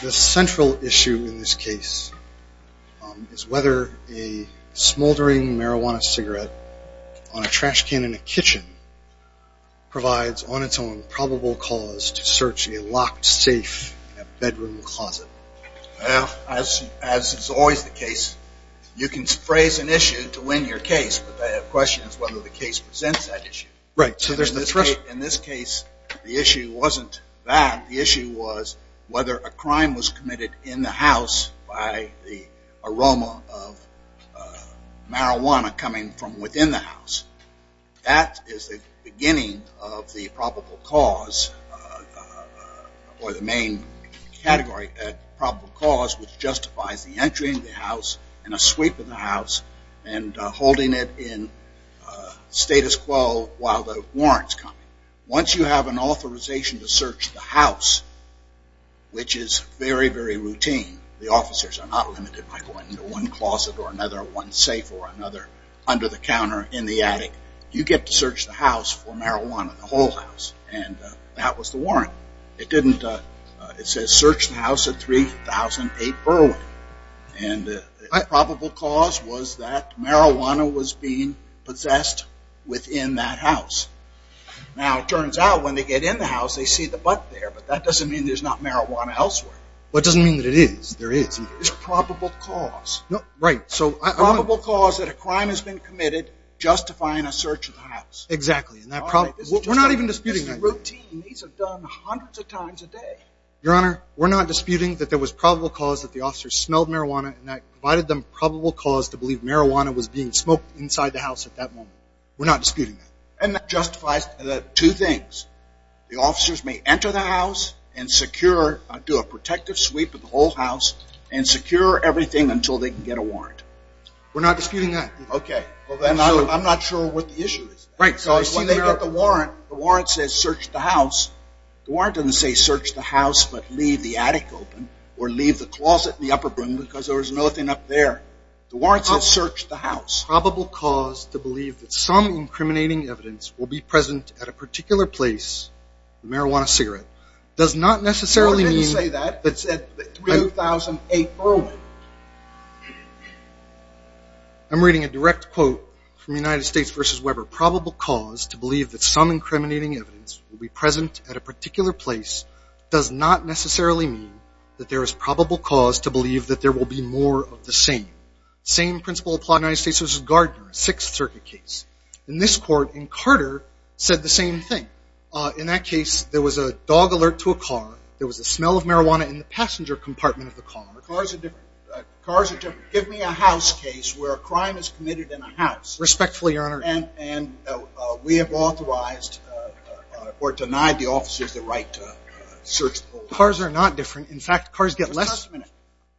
The central issue in this case is whether a smoldering marijuana cigarette on a trash can in a kitchen provides, on its own, probable cause to search a locked safe in a bedroom closet. As is always the case, you can phrase an issue to win your case, but the question is whether the case presents that issue. In this case, the issue wasn't that. The issue was whether a crime was committed in the house by the aroma of marijuana coming from within the house. Once you have an authorization to search the house, which is very, very routine, the officers are not limited by going into one closet or another, one safe or another under the counter in the attic, you get to search the house for marijuana, the whole day. The probable cause was that marijuana was being possessed within that house. Now, it turns out that when they get in the house they see the butt there, but that doesn't mean there's not marijuana elsewhere. But it doesn't mean that there is. There is probable cause. Right. Probable cause that a crime has been committed justifying a search of the house. Exactly. And that problem... we're not even disputing that. This is routine. These are done hundreds of times a day. Your Honor, we're not disputing that there was probable cause that the officers smelled marijuana and that provided them probable cause to believe marijuana was being smoked inside the house at that moment. We're not disputing that. And that justifies two things. The officers may enter the house and secure, do a protective sweep of the whole house and secure everything until they can get a warrant. We're not disputing that. Okay. I'm not sure what the issue is. Right. When they get the warrant, the warrant says search the house. The warrant doesn't say search the house but leave the attic open or leave the closet in the upper room because there was nothing up there. The warrant says search the house. Probable cause to believe that some incriminating evidence will be present at a particular place in the marijuana cigarette does not necessarily mean... Your Honor didn't say that. It said 2008 Berlin. I'm reading a direct quote from United States v. Weber. Probable cause to believe that some incriminating evidence will be present at a particular place does not necessarily mean that there is probable cause to believe that there will be more of the same. Same principle applied in United States v. Gardner, Sixth Circuit case. In this court, Carter said the same thing. In that case, there was a dog alert to a car. There was the smell of marijuana in the passenger compartment of the car. Cars are different. Cars are different. Give me a house case where a crime is committed in a house. Respectfully, Your Honor. And we have authorized or denied the officers the right to search the home. Cars are not different. In fact, cars get less... Just a minute.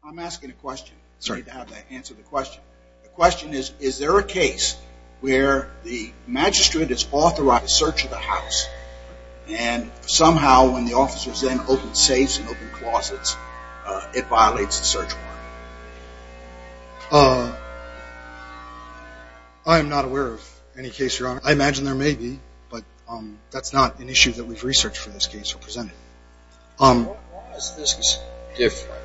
I'm asking a question. Sorry. You don't have to answer the question. The question is, is there a case where the magistrate is authorized to search the house and somehow when the officers then open safes and open closets, it violates the search warrant? I'm not aware of any case, Your Honor. I imagine there may be, but that's not an issue that we've researched for this case or presented. Why is this different?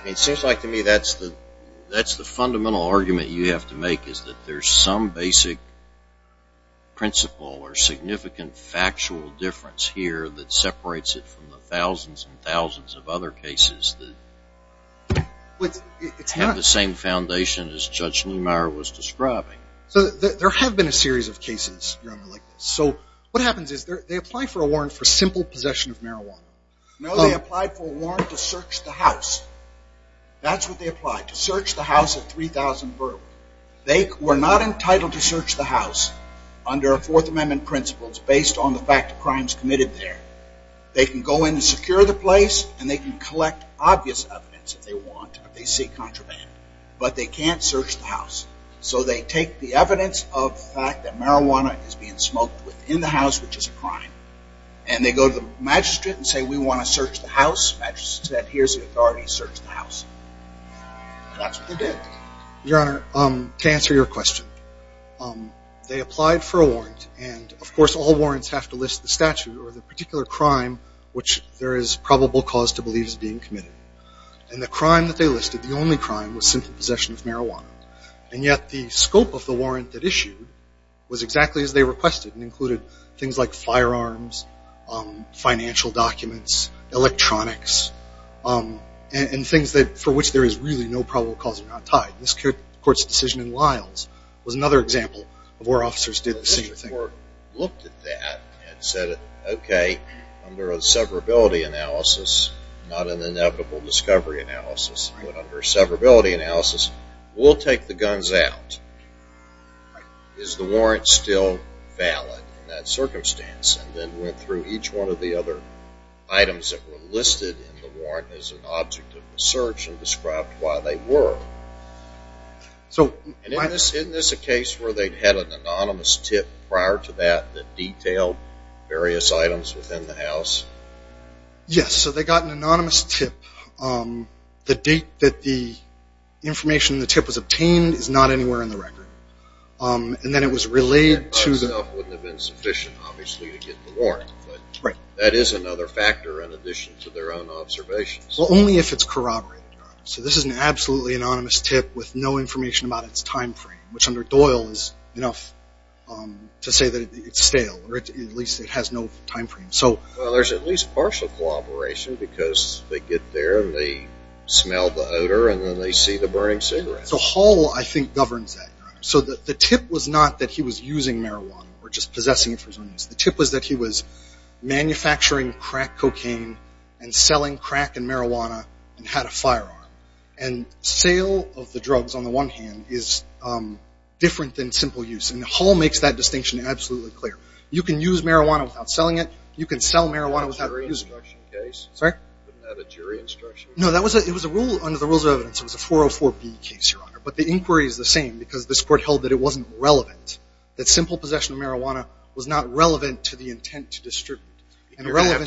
I mean, it seems like to me that's the fundamental argument you have to make is that there's some basic principle or significant factual difference here that would have the same foundation as Judge Neumeier was describing. So there have been a series of cases, Your Honor, like this. So what happens is they apply for a warrant for simple possession of marijuana. No, they apply for a warrant to search the house. That's what they apply, to search the house of 3,000 burglars. They were not entitled to search the house under Fourth Amendment principles based on the fact of crimes committed there. They can go in and secure the place and they can collect obvious evidence if they want, if they see contraband, but they can't search the house. So they take the evidence of the fact that marijuana is being smoked within the house, which is a crime, and they go to the magistrate and say, we want to search the house. The magistrate said, here's the authority to search the house. That's what they did. Your Honor, to answer your question, they applied for a warrant and of course all warrants have to list the statute or the particular crime which there is probable cause to believe is being committed. And the crime that they listed, the only crime, was simple possession of marijuana. And yet the scope of the warrant that issued was exactly as they requested and included things like firearms, financial documents, electronics, and things for which there is really no probable cause that are not tied. This court's decision in Lyles was another example of where officers did the same thing. The court looked at that and said, okay, under a severability analysis, not an inevitable discovery analysis, but under a severability analysis, we'll take the guns out. Is the warrant still valid in that circumstance? And then went through each one of the other items that were listed in the warrant as an object of the search and described why they were. Isn't this a case where they had an anonymous tip prior to that that detailed various items within the house? Yes. So they got an anonymous tip. The date that the information in the tip was obtained is not anywhere in the record. And then it was relayed to the... That by itself wouldn't have been sufficient, obviously, to get the warrant. But that is another factor in addition to their own observations. Well, only if it's corroborated. So this is an absolutely anonymous tip with no information about its time frame, which under Doyle is enough to say that it's stale, or at least it has no time frame. Well, there's at least partial corroboration because they get there and they smell the odor and then they see the burning cigarettes. So Hall, I think, governs that. So the tip was not that he was using marijuana or just possessing it for his own use. The tip was that he was manufacturing crack cocaine and selling crack and marijuana and had a firearm. And sale of the drugs, on the one hand, is different than simple use. And Hall makes that distinction absolutely clear. You can use marijuana without selling it. You can sell marijuana without using it. Wasn't that a jury instruction case? Sorry? Wasn't that a jury instruction case? No, it was under the rules of evidence. It was a 404B case, Your Honor. But the inquiry is the same because this court held that it wasn't relevant, that simple possession of marijuana was not relevant to the intent to distribute. And relevance... I think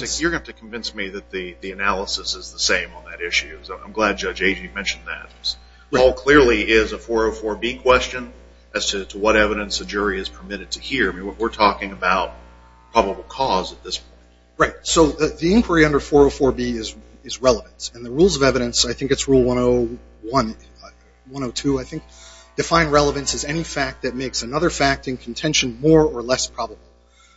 that the analysis is the same on that issue. I'm glad Judge Agee mentioned that. Hall clearly is a 404B question as to what evidence a jury is permitted to hear. We're talking about probable cause at this point. Right. So the inquiry under 404B is relevance. And the rules of evidence, I think it's rule 101, 102, I think, define relevance as any fact that makes another fact in contention more or less probable.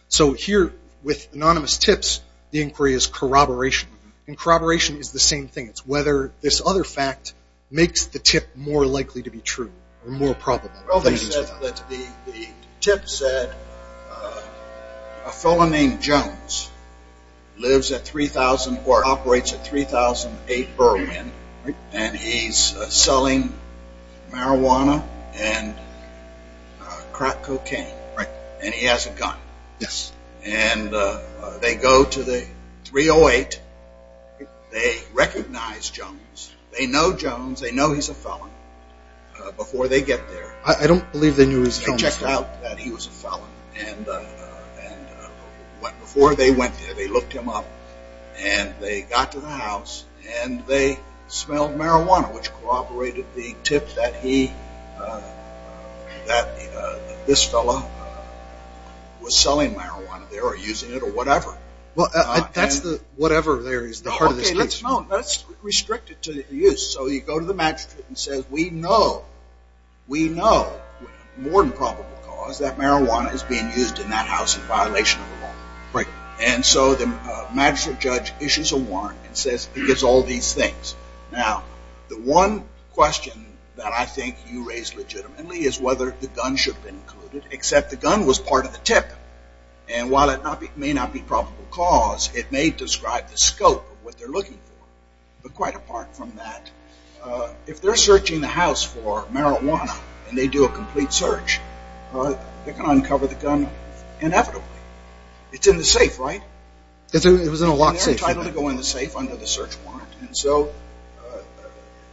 So here, with anonymous tips, the inquiry is corroboration. And corroboration is the same thing. It's whether this other fact makes the tip more likely to be true or more probable. Well, they said that the tip said a fellow named Jones lives at 3,000 or operates at 3,008 Berwyn, and he's selling marijuana and crack cocaine. Right? And he has a gun. Yes. And they go to the 3,008. They recognize Jones. They know Jones. They know he's a felon. Before they get there... I don't believe they knew he was a felon. They checked out that he was a felon. And before they went there, they looked him up. And they got to the house, and they smelled marijuana, which corroborated the tip that he, that this fellow, was selling marijuana there or using it or whatever. Well, that's the whatever there is the heart of this case. Okay, let's restrict it to the use. So you go to the magistrate and say, we know, we know, more than probable cause, that marijuana is being used in that house in violation of the law. Right. And so the magistrate judge issues a warrant and says, it's all these things. Now, the one question that I think you raise legitimately is whether the gun should be included, except the gun was part of the tip. And while it may not be probable cause, it may describe the scope of what they're looking for. But quite apart from that, if they're searching the house for marijuana, and they do a complete search, they can uncover the gun inevitably. It's in the safe, right? It was in a locked safe. And they're entitled to go in the safe under the search warrant. And so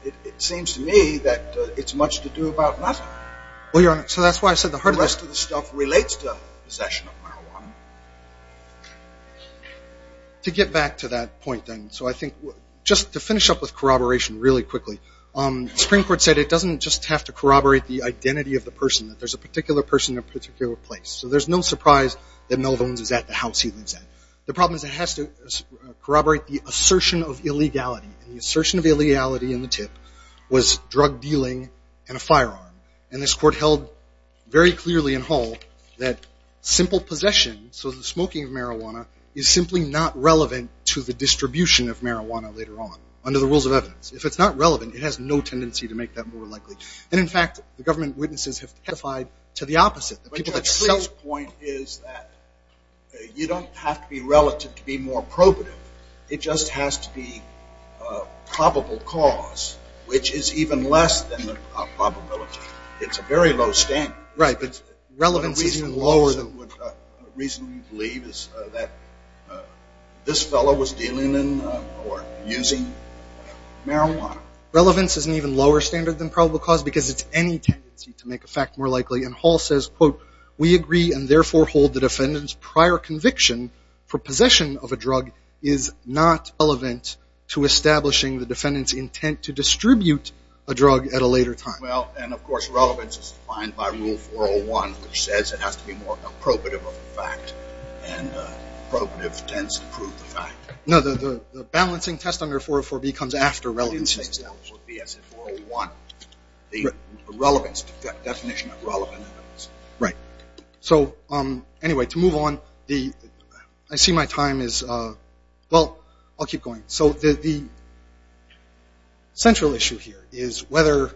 it seems to me that it's much to do about nothing. Well, Your Honor, so that's why I said the heart of the case. The rest of the stuff relates to possession of marijuana. To get back to that point, then, so I think just to finish up with corroboration really quickly, the Supreme Court said it doesn't just have to corroborate the identity of the person, that there's a particular person in a particular place. So there's no surprise that Melvins is at the house he lives at. The problem is it has to corroborate the assertion of illegality. And the assertion of illegality in the tip was drug dealing and a firearm. And this Court held very clearly in Hall that simple possession, so the smoking of marijuana, is simply not relevant to the distribution of marijuana later on, under the rules of evidence. If it's not relevant, it has no tendency to make that more likely. And in fact, the government witnesses have testified to the opposite. But Judge Cleese's point is that you don't have to be relative to be more probative. It just has to be probable cause, which is even less than the probability. It's a very low standard. Right, but relevance is even lower than... The reason we believe is that this fellow was dealing in or using marijuana. Relevance is an even lower standard than probable cause because it's any tendency to make a more likely. And Hall says, quote, we agree and therefore hold the defendant's prior conviction for possession of a drug is not relevant to establishing the defendant's intent to distribute a drug at a later time. Well, and of course relevance is defined by Rule 401, which says it has to be more probative of the fact. And probative tends to prove the fact. No, the balancing test under 404B comes after relevance. The definition of relevance is 404B. So anyway, to move on, I see my time is, well, I'll keep going. So the central issue here is whether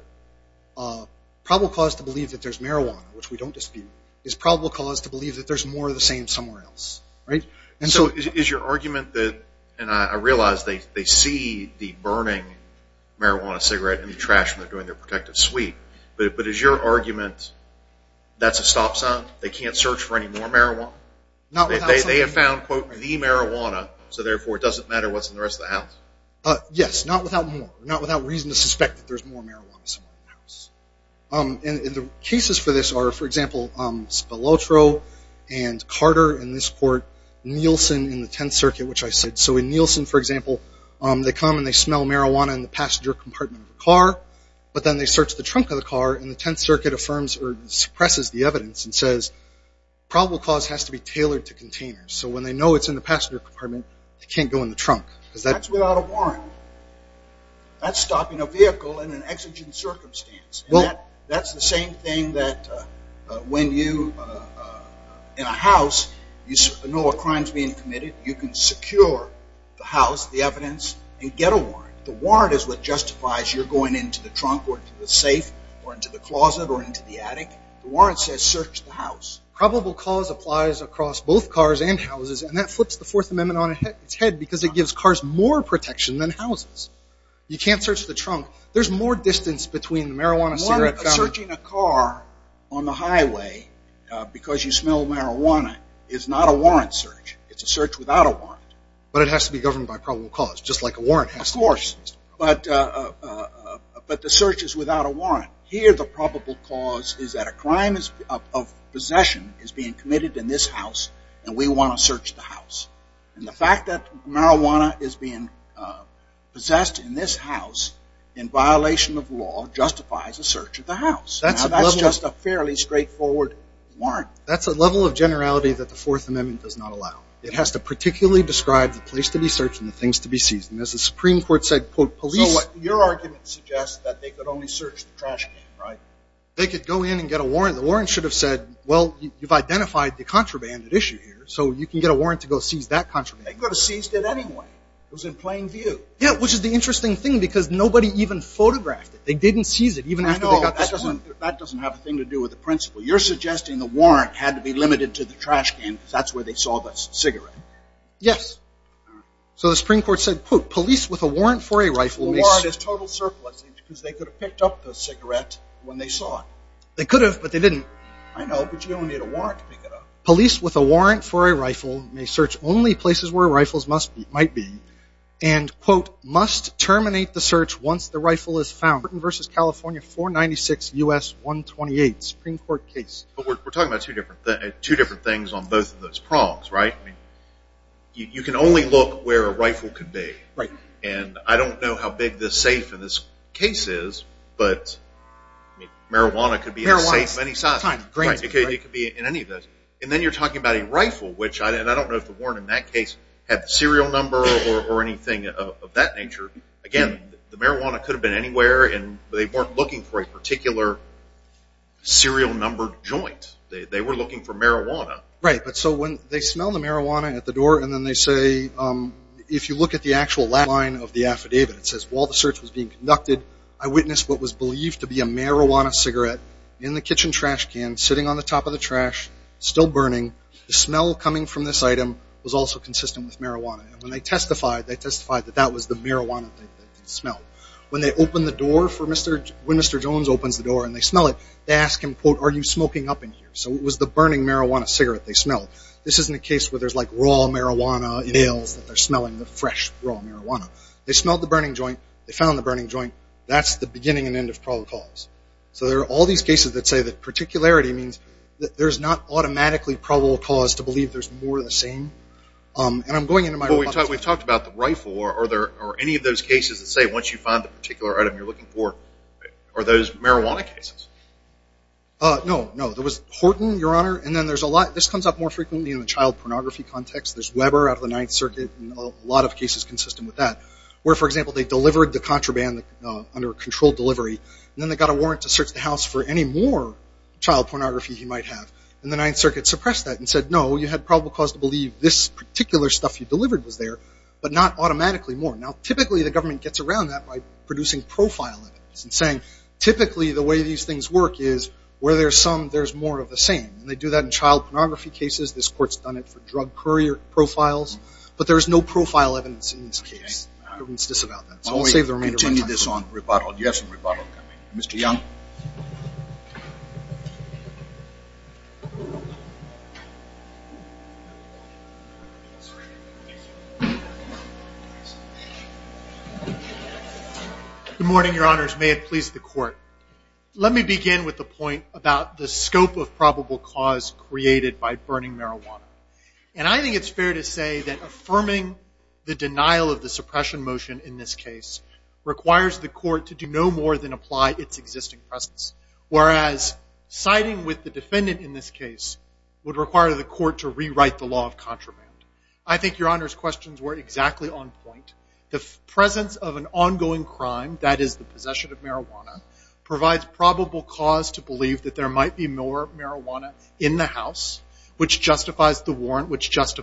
probable cause to believe that there's marijuana, which we don't dispute, is probable cause to believe that there's more of the same somewhere else. So is your argument that, and I realize they see the burning marijuana cigarette in the trash when they're doing their protective sweep, but is your argument that's a stop sign? They can't search for any more marijuana? They have found, quote, the marijuana, so therefore it doesn't matter what's in the rest of the house? Yes, not without more. Not without reason to suspect that there's more marijuana somewhere in the house. And the cases for this are, for example, Spilotro and Carter in this court and Nielsen in the Tenth Circuit, which I said. So in Nielsen, for example, they come and they smell marijuana in the passenger compartment of a car, but then they search the trunk of the car and the Tenth Circuit affirms or suppresses the evidence and says probable cause has to be tailored to containers. So when they know it's in the passenger compartment, they can't go in the trunk. That's without a warrant. That's stopping a vehicle in an exigent circumstance. That's the same thing that when you, in a house, you know a crime's being committed, you can secure the house, the evidence, and get a warrant. The warrant is what justifies your going into the trunk or to the safe or into the closet or into the attic. The warrant says search the house. Probable cause applies across both cars and houses, and that flips the Fourth Amendment on its head because it gives cars more protection than houses. You can't search the trunk. There's more distance between the marijuana cigarette counter... Searching a car on the highway because you smell marijuana is not a warrant search. It's a search without a warrant. But it has to be governed by probable cause, just like a warrant has to be governed. Of course, but the search is without a warrant. Here the probable cause is that a crime of possession is being committed in this house and we want to search the house. And the fact that marijuana is being possessed in this house in violation of law justifies a search of the house. Now that's just a fairly straightforward warrant. That's a level of generality that the Fourth Amendment does not allow. It has to particularly describe the place to be searched and the things to be seized. And as the Supreme Court said, quote, police... So what, your argument suggests that they could only search the trash can, right? They could go in and get a warrant. The warrant should have said, well, you've identified the contraband at issue here, so you can get a warrant to go seize that contraband. They could have seized it anyway. It was in plain view. Yeah, which is the interesting thing because nobody even photographed it. They didn't seize it even after they got the warrant. I know. That doesn't have a thing to do with the principle. You're suggesting the warrant had to be limited to the trash can because that's where they saw the cigarette. Yes. So the Supreme Court said, quote, police with a warrant for a rifle may... The warrant is total surplus because they could have picked up the cigarette when they saw it. They could have, but they didn't. I know, but you only need a warrant to pick it up. ...must terminate the search once the rifle is found. Britain v. California, 496 U.S. 128, Supreme Court case. But we're talking about two different things on both of those prongs, right? You can only look where a rifle could be, and I don't know how big the safe in this case is, but marijuana could be in the safe of any size. Marijuana, time, grain. Right, because it could be in any of those. And then you're talking about a rifle, which I don't know if the warrant in that case had the serial number or anything of that nature. Again, the marijuana could have been anywhere, and they weren't looking for a particular serial number joint. They were looking for marijuana. Right, but so when they smell the marijuana at the door, and then they say, if you look at the actual lab line of the affidavit, it says, while the search was being conducted, I witnessed what was believed to be a marijuana cigarette in the kitchen trash can, sitting on the top of the trash, still burning, the smell coming from this item was also consistent with marijuana. And when they testified, they testified that that was the marijuana that they smelled. When they open the door for Mr. Jones, when Mr. Jones opens the door and they smell it, they ask him, quote, are you smoking up in here? So it was the burning marijuana cigarette they smelled. This isn't a case where there's like raw marijuana in ales that they're smelling, the fresh raw marijuana. They smelled the burning joint. They found the burning joint. That's the beginning and end of protocols. So there are all these cases that say that particularity means that there's not automatically probable cause to believe there's more of the same. And I'm going into my Well, we've talked about the rifle. Are there, are any of those cases that say once you find the particular item you're looking for, are those marijuana cases? No, no. There was Horton, Your Honor, and then there's a lot, this comes up more frequently in the child pornography context. There's Weber out of the Ninth Circuit, and a lot of cases consistent with that, where, for example, they delivered the contraband under controlled delivery, and then they got a warrant to search the house for any more child pornography he might have. And the Ninth Circuit suppressed that and said, no, you had probable cause to believe this particular stuff you delivered was there, but not automatically more. Now, typically the government gets around that by producing profile evidence and saying typically the way these things work is where there's some, there's more of the same. And they do that in child pornography cases. This court's done it for drug courier profiles. But there's no profile evidence in this case. All right. We'll continue this on rebuttal. Do you have some rebuttal coming? Mr. Young? Good morning, Your Honors. May it please the Court. Let me begin with the point about the scope of probable cause created by burning marijuana. And I think it's fair to say that suppression motion in this case requires the court to do no more than apply its existing presence, whereas siding with the defendant in this case would require the court to rewrite the law of contraband. I think Your Honor's questions were exactly on point. The presence of an ongoing crime, that is the possession of marijuana, provides probable cause to believe that there might be more marijuana in the house, which justifies the warrant, which with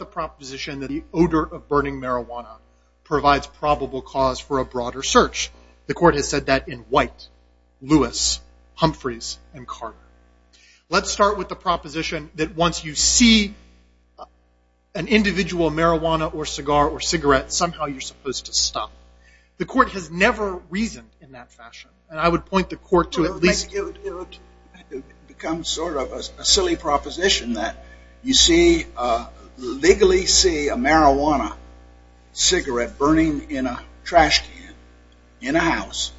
the proposition that the odor of burning marijuana provides probable cause for a broader search. The court has said that in White, Lewis, Humphreys, and Carter. Let's start with the proposition that once you see an individual marijuana or cigar or cigarette, somehow you're supposed to stop. The court has never reasoned in that fashion. And I legally see a marijuana cigarette burning in a trash can in a house,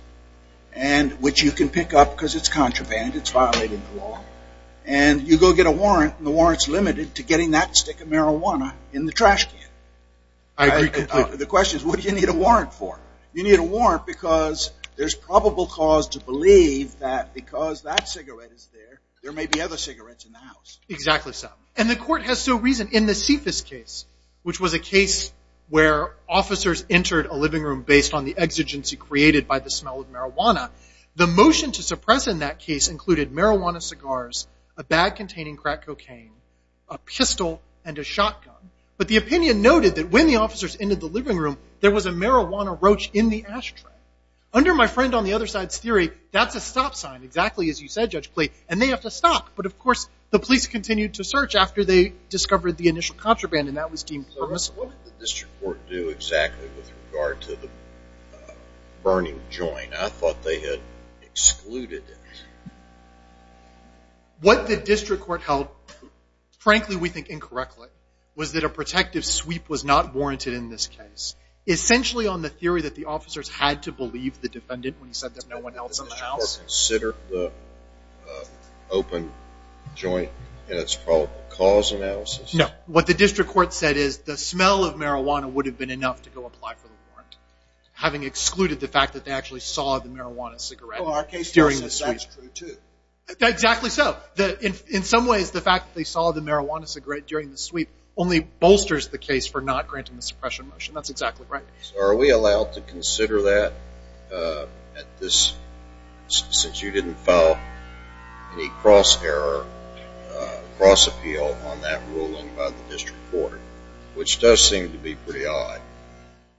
which you can pick up because it's contraband. It's violated the law. And you go get a warrant, and the warrant's limited to getting that stick of marijuana in the trash can. I agree completely. The question is, what do you need a warrant for? You need a warrant because there's probable cause to believe that because that cigarette is there, there may be other cigarettes in the house. For that reason, in the CFIS case, which was a case where officers entered a living room based on the exigency created by the smell of marijuana, the motion to suppress in that case included marijuana cigars, a bag containing crack cocaine, a pistol, and a shotgun. But the opinion noted that when the officers entered the living room, there was a marijuana roach in the ashtray. Under my friend on the other side's theory, that's a stop sign, exactly as you said, Judge Clay. And they have to stop. But of course, the police continued to search after they discovered the initial contraband, and that was deemed permissible. What did the district court do exactly with regard to the burning joint? I thought they had excluded it. What the district court held, frankly, we think incorrectly, was that a protective sweep was not warranted in this case. Essentially, on the theory that the officers had to believe the defendant when he said that no one else was in the house. Did the district court consider the open joint in its probable cause analysis? No. What the district court said is the smell of marijuana would have been enough to go apply for the warrant, having excluded the fact that they actually saw the marijuana cigarette during the sweep. Well, our case also says that's true, too. Exactly so. In some ways, the fact that they saw the marijuana cigarette during the sweep only bolsters the case for not granting the suppression motion. That's exactly right. So are we allowed to consider that at this, since you didn't file any cross-error, cross-appeal on that ruling by the district court, which does seem to be pretty odd.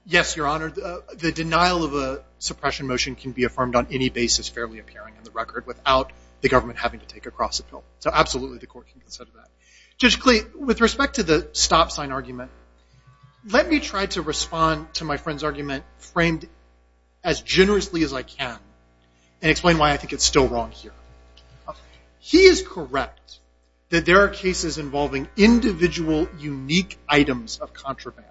Yes, Your Honor. The denial of a suppression motion can be affirmed on any basis fairly appearing in the record without the government having to take a cross-appeal. So absolutely, the court can consider that. Judge Clay, with respect to the stop sign argument, let me try to respond to my friend's argument framed as generously as I can and explain why I think it's still wrong here. He is correct that there are cases involving individual unique items of contraband,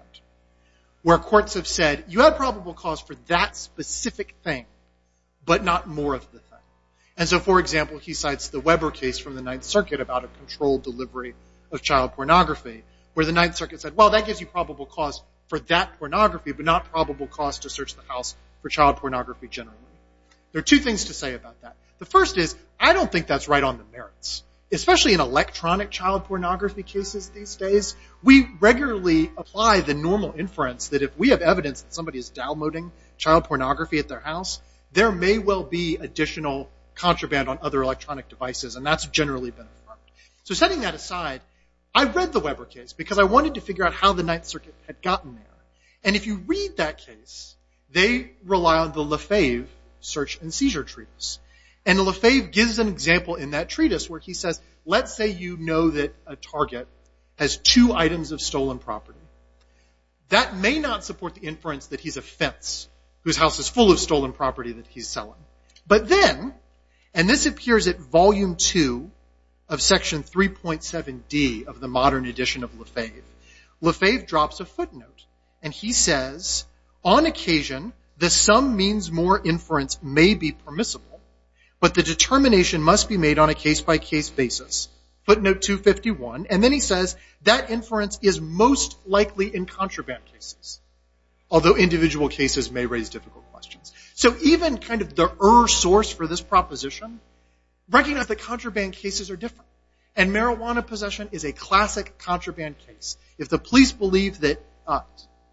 where courts have said, you have probable cause for that specific thing, but not more of the thing. And so, for example, he cites the Weber case from the Ninth Circuit about a controlled delivery of child pornography, where the Ninth Circuit said, well, that gives you probable cause for that pornography, but not probable cause to search the house for child pornography generally. There are two things to say about that. The first is, I don't think that's right on the merits. Especially in electronic child pornography cases these days, we regularly apply the normal inference that if we have evidence that somebody is downloading child pornography at their house, there may well be additional contraband on other electronic devices. And that's generally been affirmed. So setting that aside, I've read the Weber case because I wanted to figure out how the Ninth Circuit had gotten there. And if you read that case, they rely on the Lefebvre search and seizure treatise. And Lefebvre gives an example in that treatise where he says, let's say you know that a target has two items of stolen property. That may not support the inference that he's a fence whose house is full of stolen property that he's selling. But then, and this appears at volume two of section 3.7D of the modern edition of Lefebvre, Lefebvre drops a footnote. And he says, on occasion, the sum means more inference may be permissible, but the determination must be made on a case-by-case basis. Footnote 251. And then he says, that inference is most likely in contraband cases, although individual cases may raise difficult questions. So even kind of the ur-source for this proposition, recognize that contraband cases are different. And marijuana possession is a classic contraband case. If the police believe that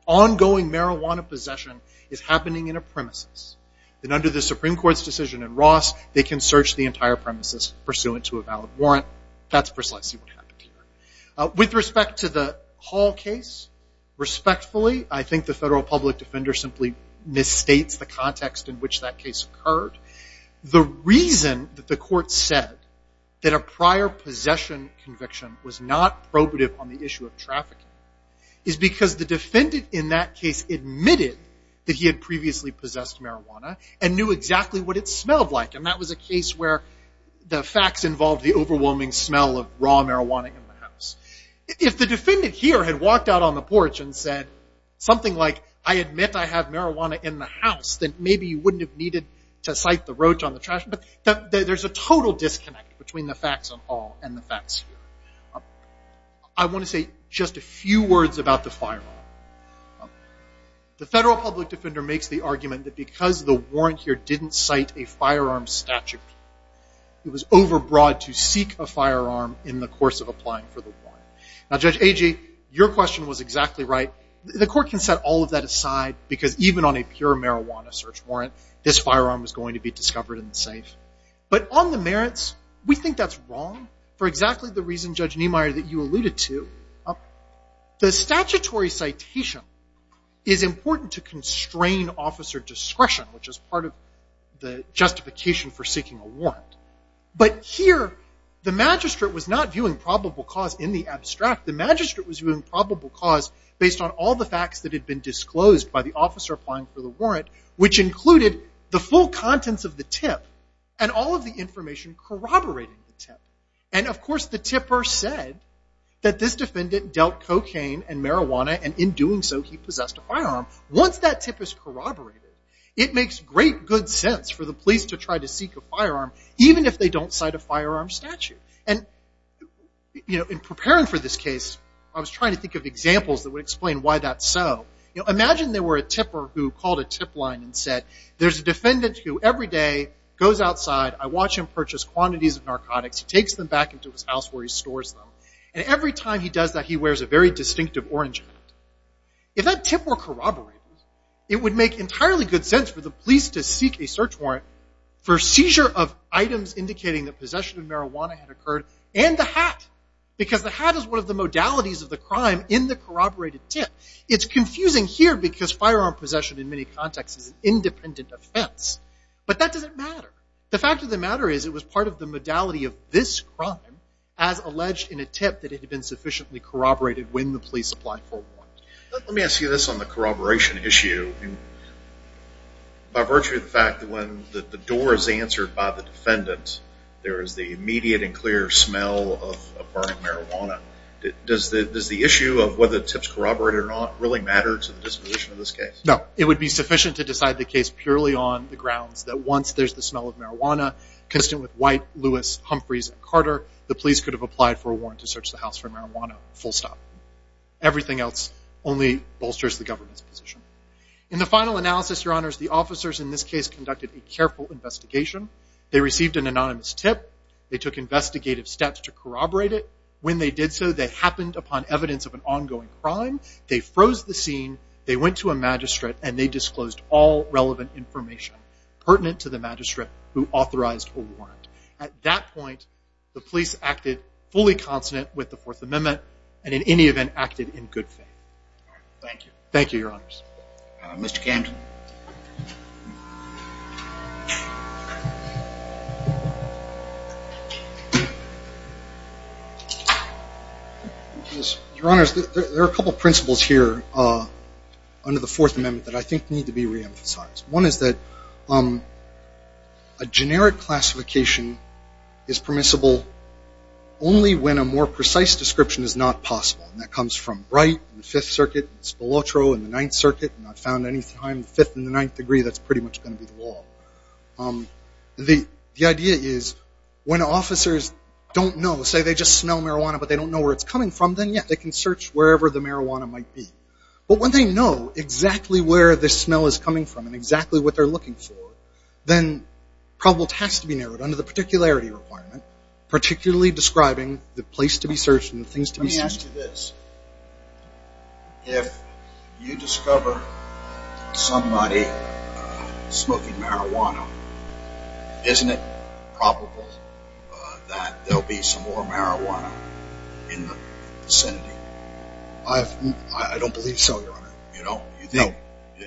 ongoing marijuana possession is happening in a premises, then under the Supreme Court's decision in Ross, they can search the entire premises pursuant to a valid warrant. That's precisely what happened here. With respect to the Hall case, respectfully, I think the federal public defender simply misstates the context in which that case occurred. The reason that the court said that a prior possession conviction was not probative on the issue of trafficking is because the defendant in that case admitted that he had previously possessed marijuana and knew exactly what it smelled like. And that was a case where the facts involved the overwhelming smell of raw marijuana in the house. If the defendant here had walked out on the porch and said something like, I admit I have marijuana in the house, then maybe you wouldn't have needed to cite the roach on the trash. There's a total disconnect between the facts on Hall and the facts here. I want to say just a few words about the firearm. The federal public defender makes the argument that because the warrant here didn't cite a firearm statute, it was overbroad to seek a firearm in the course of applying for the warrant. Now, Judge Agee, your question was exactly right. The court can set all of that aside because even on a pure marijuana search warrant, this firearm was going to be discovered in the safe. But on the merits, we think that's wrong for exactly the reason, Judge Niemeyer, that you alluded to. The statutory citation is important to constrain officer discretion, which is part of the justification for seeking a warrant. But here, the magistrate was not viewing probable cause in the abstract. The magistrate was viewing probable cause based on all the facts that had been disclosed by the officer applying for the warrant, which included the full contents of the tip and all of the information corroborating the tip. And of course, the tipper said that this defendant dealt cocaine and marijuana, and in doing so, he possessed a firearm. Once that tip is corroborated, it makes great good sense for the police to try to seek a firearm, even if they don't cite a firearm statute. And in preparing for this case, I was trying to think of examples that would explain why that's so. Imagine there were a tipper who called a tip line and said, there's a defendant who every day goes outside. I watch him purchase quantities of narcotics. He takes them back into his house where he stores them. And every time he does that, he wears a very distinctive orange hat. If that tip were corroborated, it would make entirely good sense for the police to seek a search warrant for seizure of items indicating that possession of marijuana had occurred and the hat, because the hat is one of the modalities of the crime in the corroborated tip. It's confusing here, because firearm possession in many contexts is an independent offense. But that doesn't matter. The fact of the matter is, it was part of the modality of this crime as alleged in a tip that it had been sufficiently corroborated when the police applied for a warrant. Let me ask you this on the corroboration issue. By virtue of the fact that when the door is open, there's a clear smell of burning marijuana, does the issue of whether tips corroborated or not really matter to the disposition of this case? No. It would be sufficient to decide the case purely on the grounds that once there's the smell of marijuana, consistent with White, Lewis, Humphreys, and Carter, the police could have applied for a warrant to search the house for marijuana, full stop. Everything else only bolsters the government's position. In the final analysis, Your Honors, the officers in this case conducted a careful investigation. They received an anonymous tip. They took investigative steps to corroborate it. When they did so, they happened upon evidence of an ongoing crime. They froze the scene. They went to a magistrate, and they disclosed all relevant information pertinent to the magistrate who authorized a warrant. At that point, the police acted fully consonant with the Fourth Amendment, and in any event, acted in good faith. Thank you. Thank you, Your Honors. Mr. Camden. Your Honors, there are a couple of principles here under the Fourth Amendment that I think need to be reemphasized. One is that a generic classification is permissible only when a more precise description is not possible, and that comes from Wright and the Fifth Circuit and Spilotro and the Ninth Circuit, and I've found any time the Fifth and the Ninth degree, that's pretty much going to be the law. The idea is when officers don't know, say they just smell marijuana, but they don't know where it's coming from, then, yeah, they can search wherever the marijuana might be. But when they know exactly where the smell is coming from and exactly what they're looking for, then probability has to be narrowed under the particularity requirement, particularly describing the place to be searched and the things to be searched. Let me ask you this. If you discover somebody smoking marijuana, isn't it probable that there'll be some more marijuana in the vicinity? I don't believe so, Your Honor. You don't? No.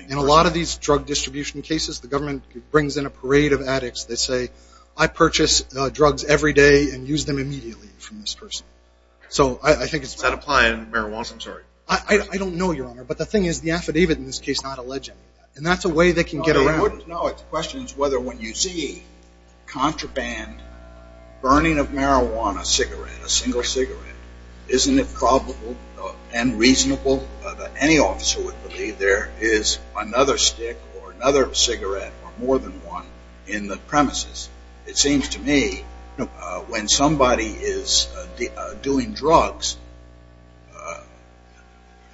In a lot of these drug distribution cases, the government brings in a parade of addicts that say, I purchase drugs every day and use them immediately from this person. So I think I don't know, Your Honor, but the thing is the affidavit in this case is not alleging that. And that's a way they can get around. No, the question is whether when you see contraband, burning of marijuana, a cigarette, a single cigarette, isn't it probable and reasonable that any officer would believe there is another stick or another cigarette or more than one in the premises? It seems to me when somebody is doing drugs,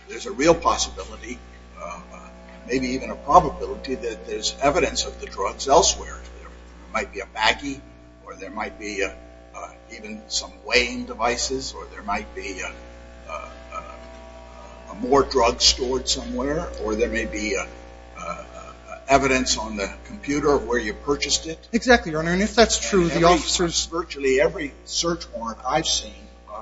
there's a real possibility, maybe even a probability, that there's evidence of the drugs elsewhere. There might be a baggie or there might be even some weighing devices or there might be more drugs stored somewhere or there may be evidence on the computer of where you purchased it. Exactly, Your Honor. And if that's true, the officers… Virtually every search warrant I've seen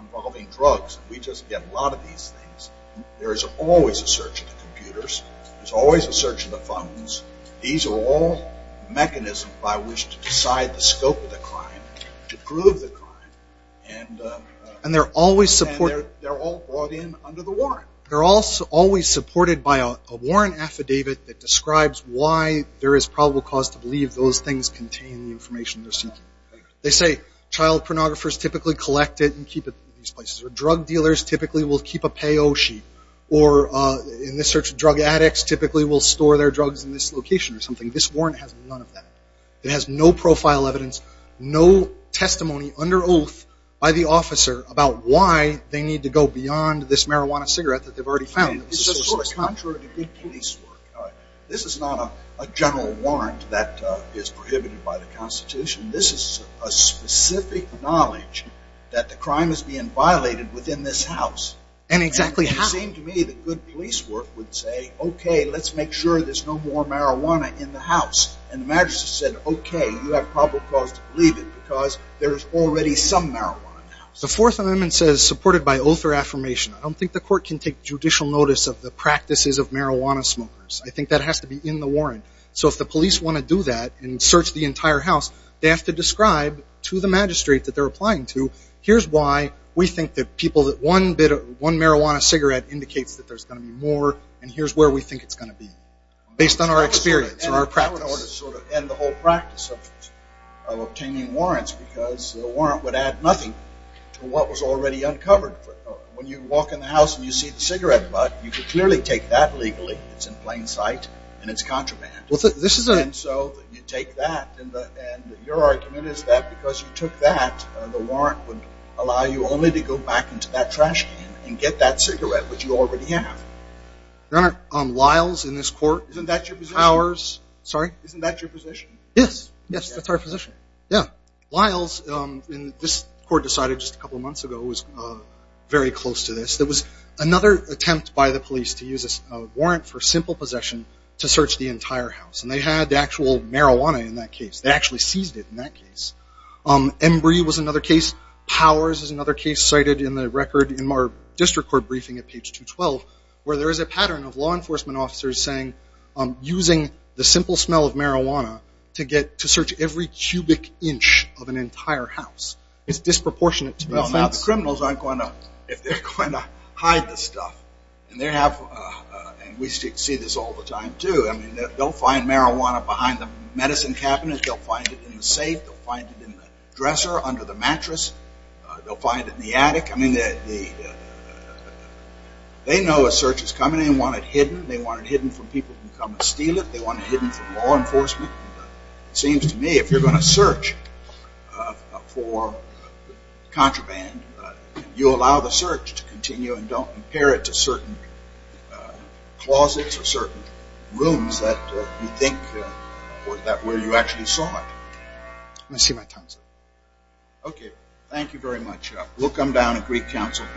involving drugs, we just get a lot of these things, there is always a search of the computers, there's always a search of the phones. These are all mechanisms by which to decide the scope of the crime, to prove the crime. And they're always supported… And they're all brought in under the warrant. They're also always supported by a warrant affidavit that describes why there is probable cause to believe those things contain the information they're seeking. They say child pornographers typically collect it and keep it in these places or drug dealers typically will keep a payo sheet or in the search of drug addicts typically will store their drugs in this location or something. This warrant has none of that. It has no profile evidence, no testimony under oath by the officer about why they need to go beyond this marijuana cigarette that they've already found. This is sort of contrary to good police work. This is not a general warrant that is prohibited by the Constitution. This is a specific knowledge that the crime is being violated within this house. And exactly how… And it would seem to me that good police work would say, okay, let's make sure there's no more marijuana in the house. And the magistrate said, okay, you have probable cause to believe it because there's already some marijuana in the house. The Fourth Amendment says supported by oath or affirmation. I don't think the court can take judicial notice of the practices of marijuana smokers. I think that has to be in the warrant. So if the police want to do that and search the entire house, they have to describe to the magistrate that they're applying to, here's why we think that one marijuana cigarette indicates that there's going to be more and here's where we think it's going to be based on our experience or our practice. And the whole practice of obtaining warrants because a warrant would add nothing to what You could clearly take that legally. It's in plain sight and it's contraband. And so you take that and your argument is that because you took that, the warrant would allow you only to go back into that trash can and get that cigarette which you already have. Your Honor, Lyles in this court… Isn't that your position? Powers. Sorry? Isn't that your position? Yes. Yes, that's our position. Yeah. Lyles in this court decided just a couple of months ago was very close to this. There was another attempt by the police to use a warrant for simple possession to search the entire house. And they had the actual marijuana in that case. They actually seized it in that case. Embree was another case. Powers is another case cited in the record in our district court briefing at page 212 where there is a pattern of law enforcement officers saying using the simple smell of marijuana to search every cubic inch of an entire house is disproportionate to the offense. Most criminals aren't going to, if they're going to, hide the stuff. And they have, and we see this all the time too, I mean, they'll find marijuana behind the medicine cabinet. They'll find it in the safe. They'll find it in the dresser, under the mattress. They'll find it in the attic. I mean, they know a search is coming. They want it hidden. They want it hidden from people who come and steal it. They want it hidden from law enforcement. It seems to me if you're going to search for contraband, you allow the search to continue and don't impair it to certain closets or certain rooms that you think that where you actually saw it. Let me see my tongue, sir. Okay. Thank you very much. We'll come down and brief counsel.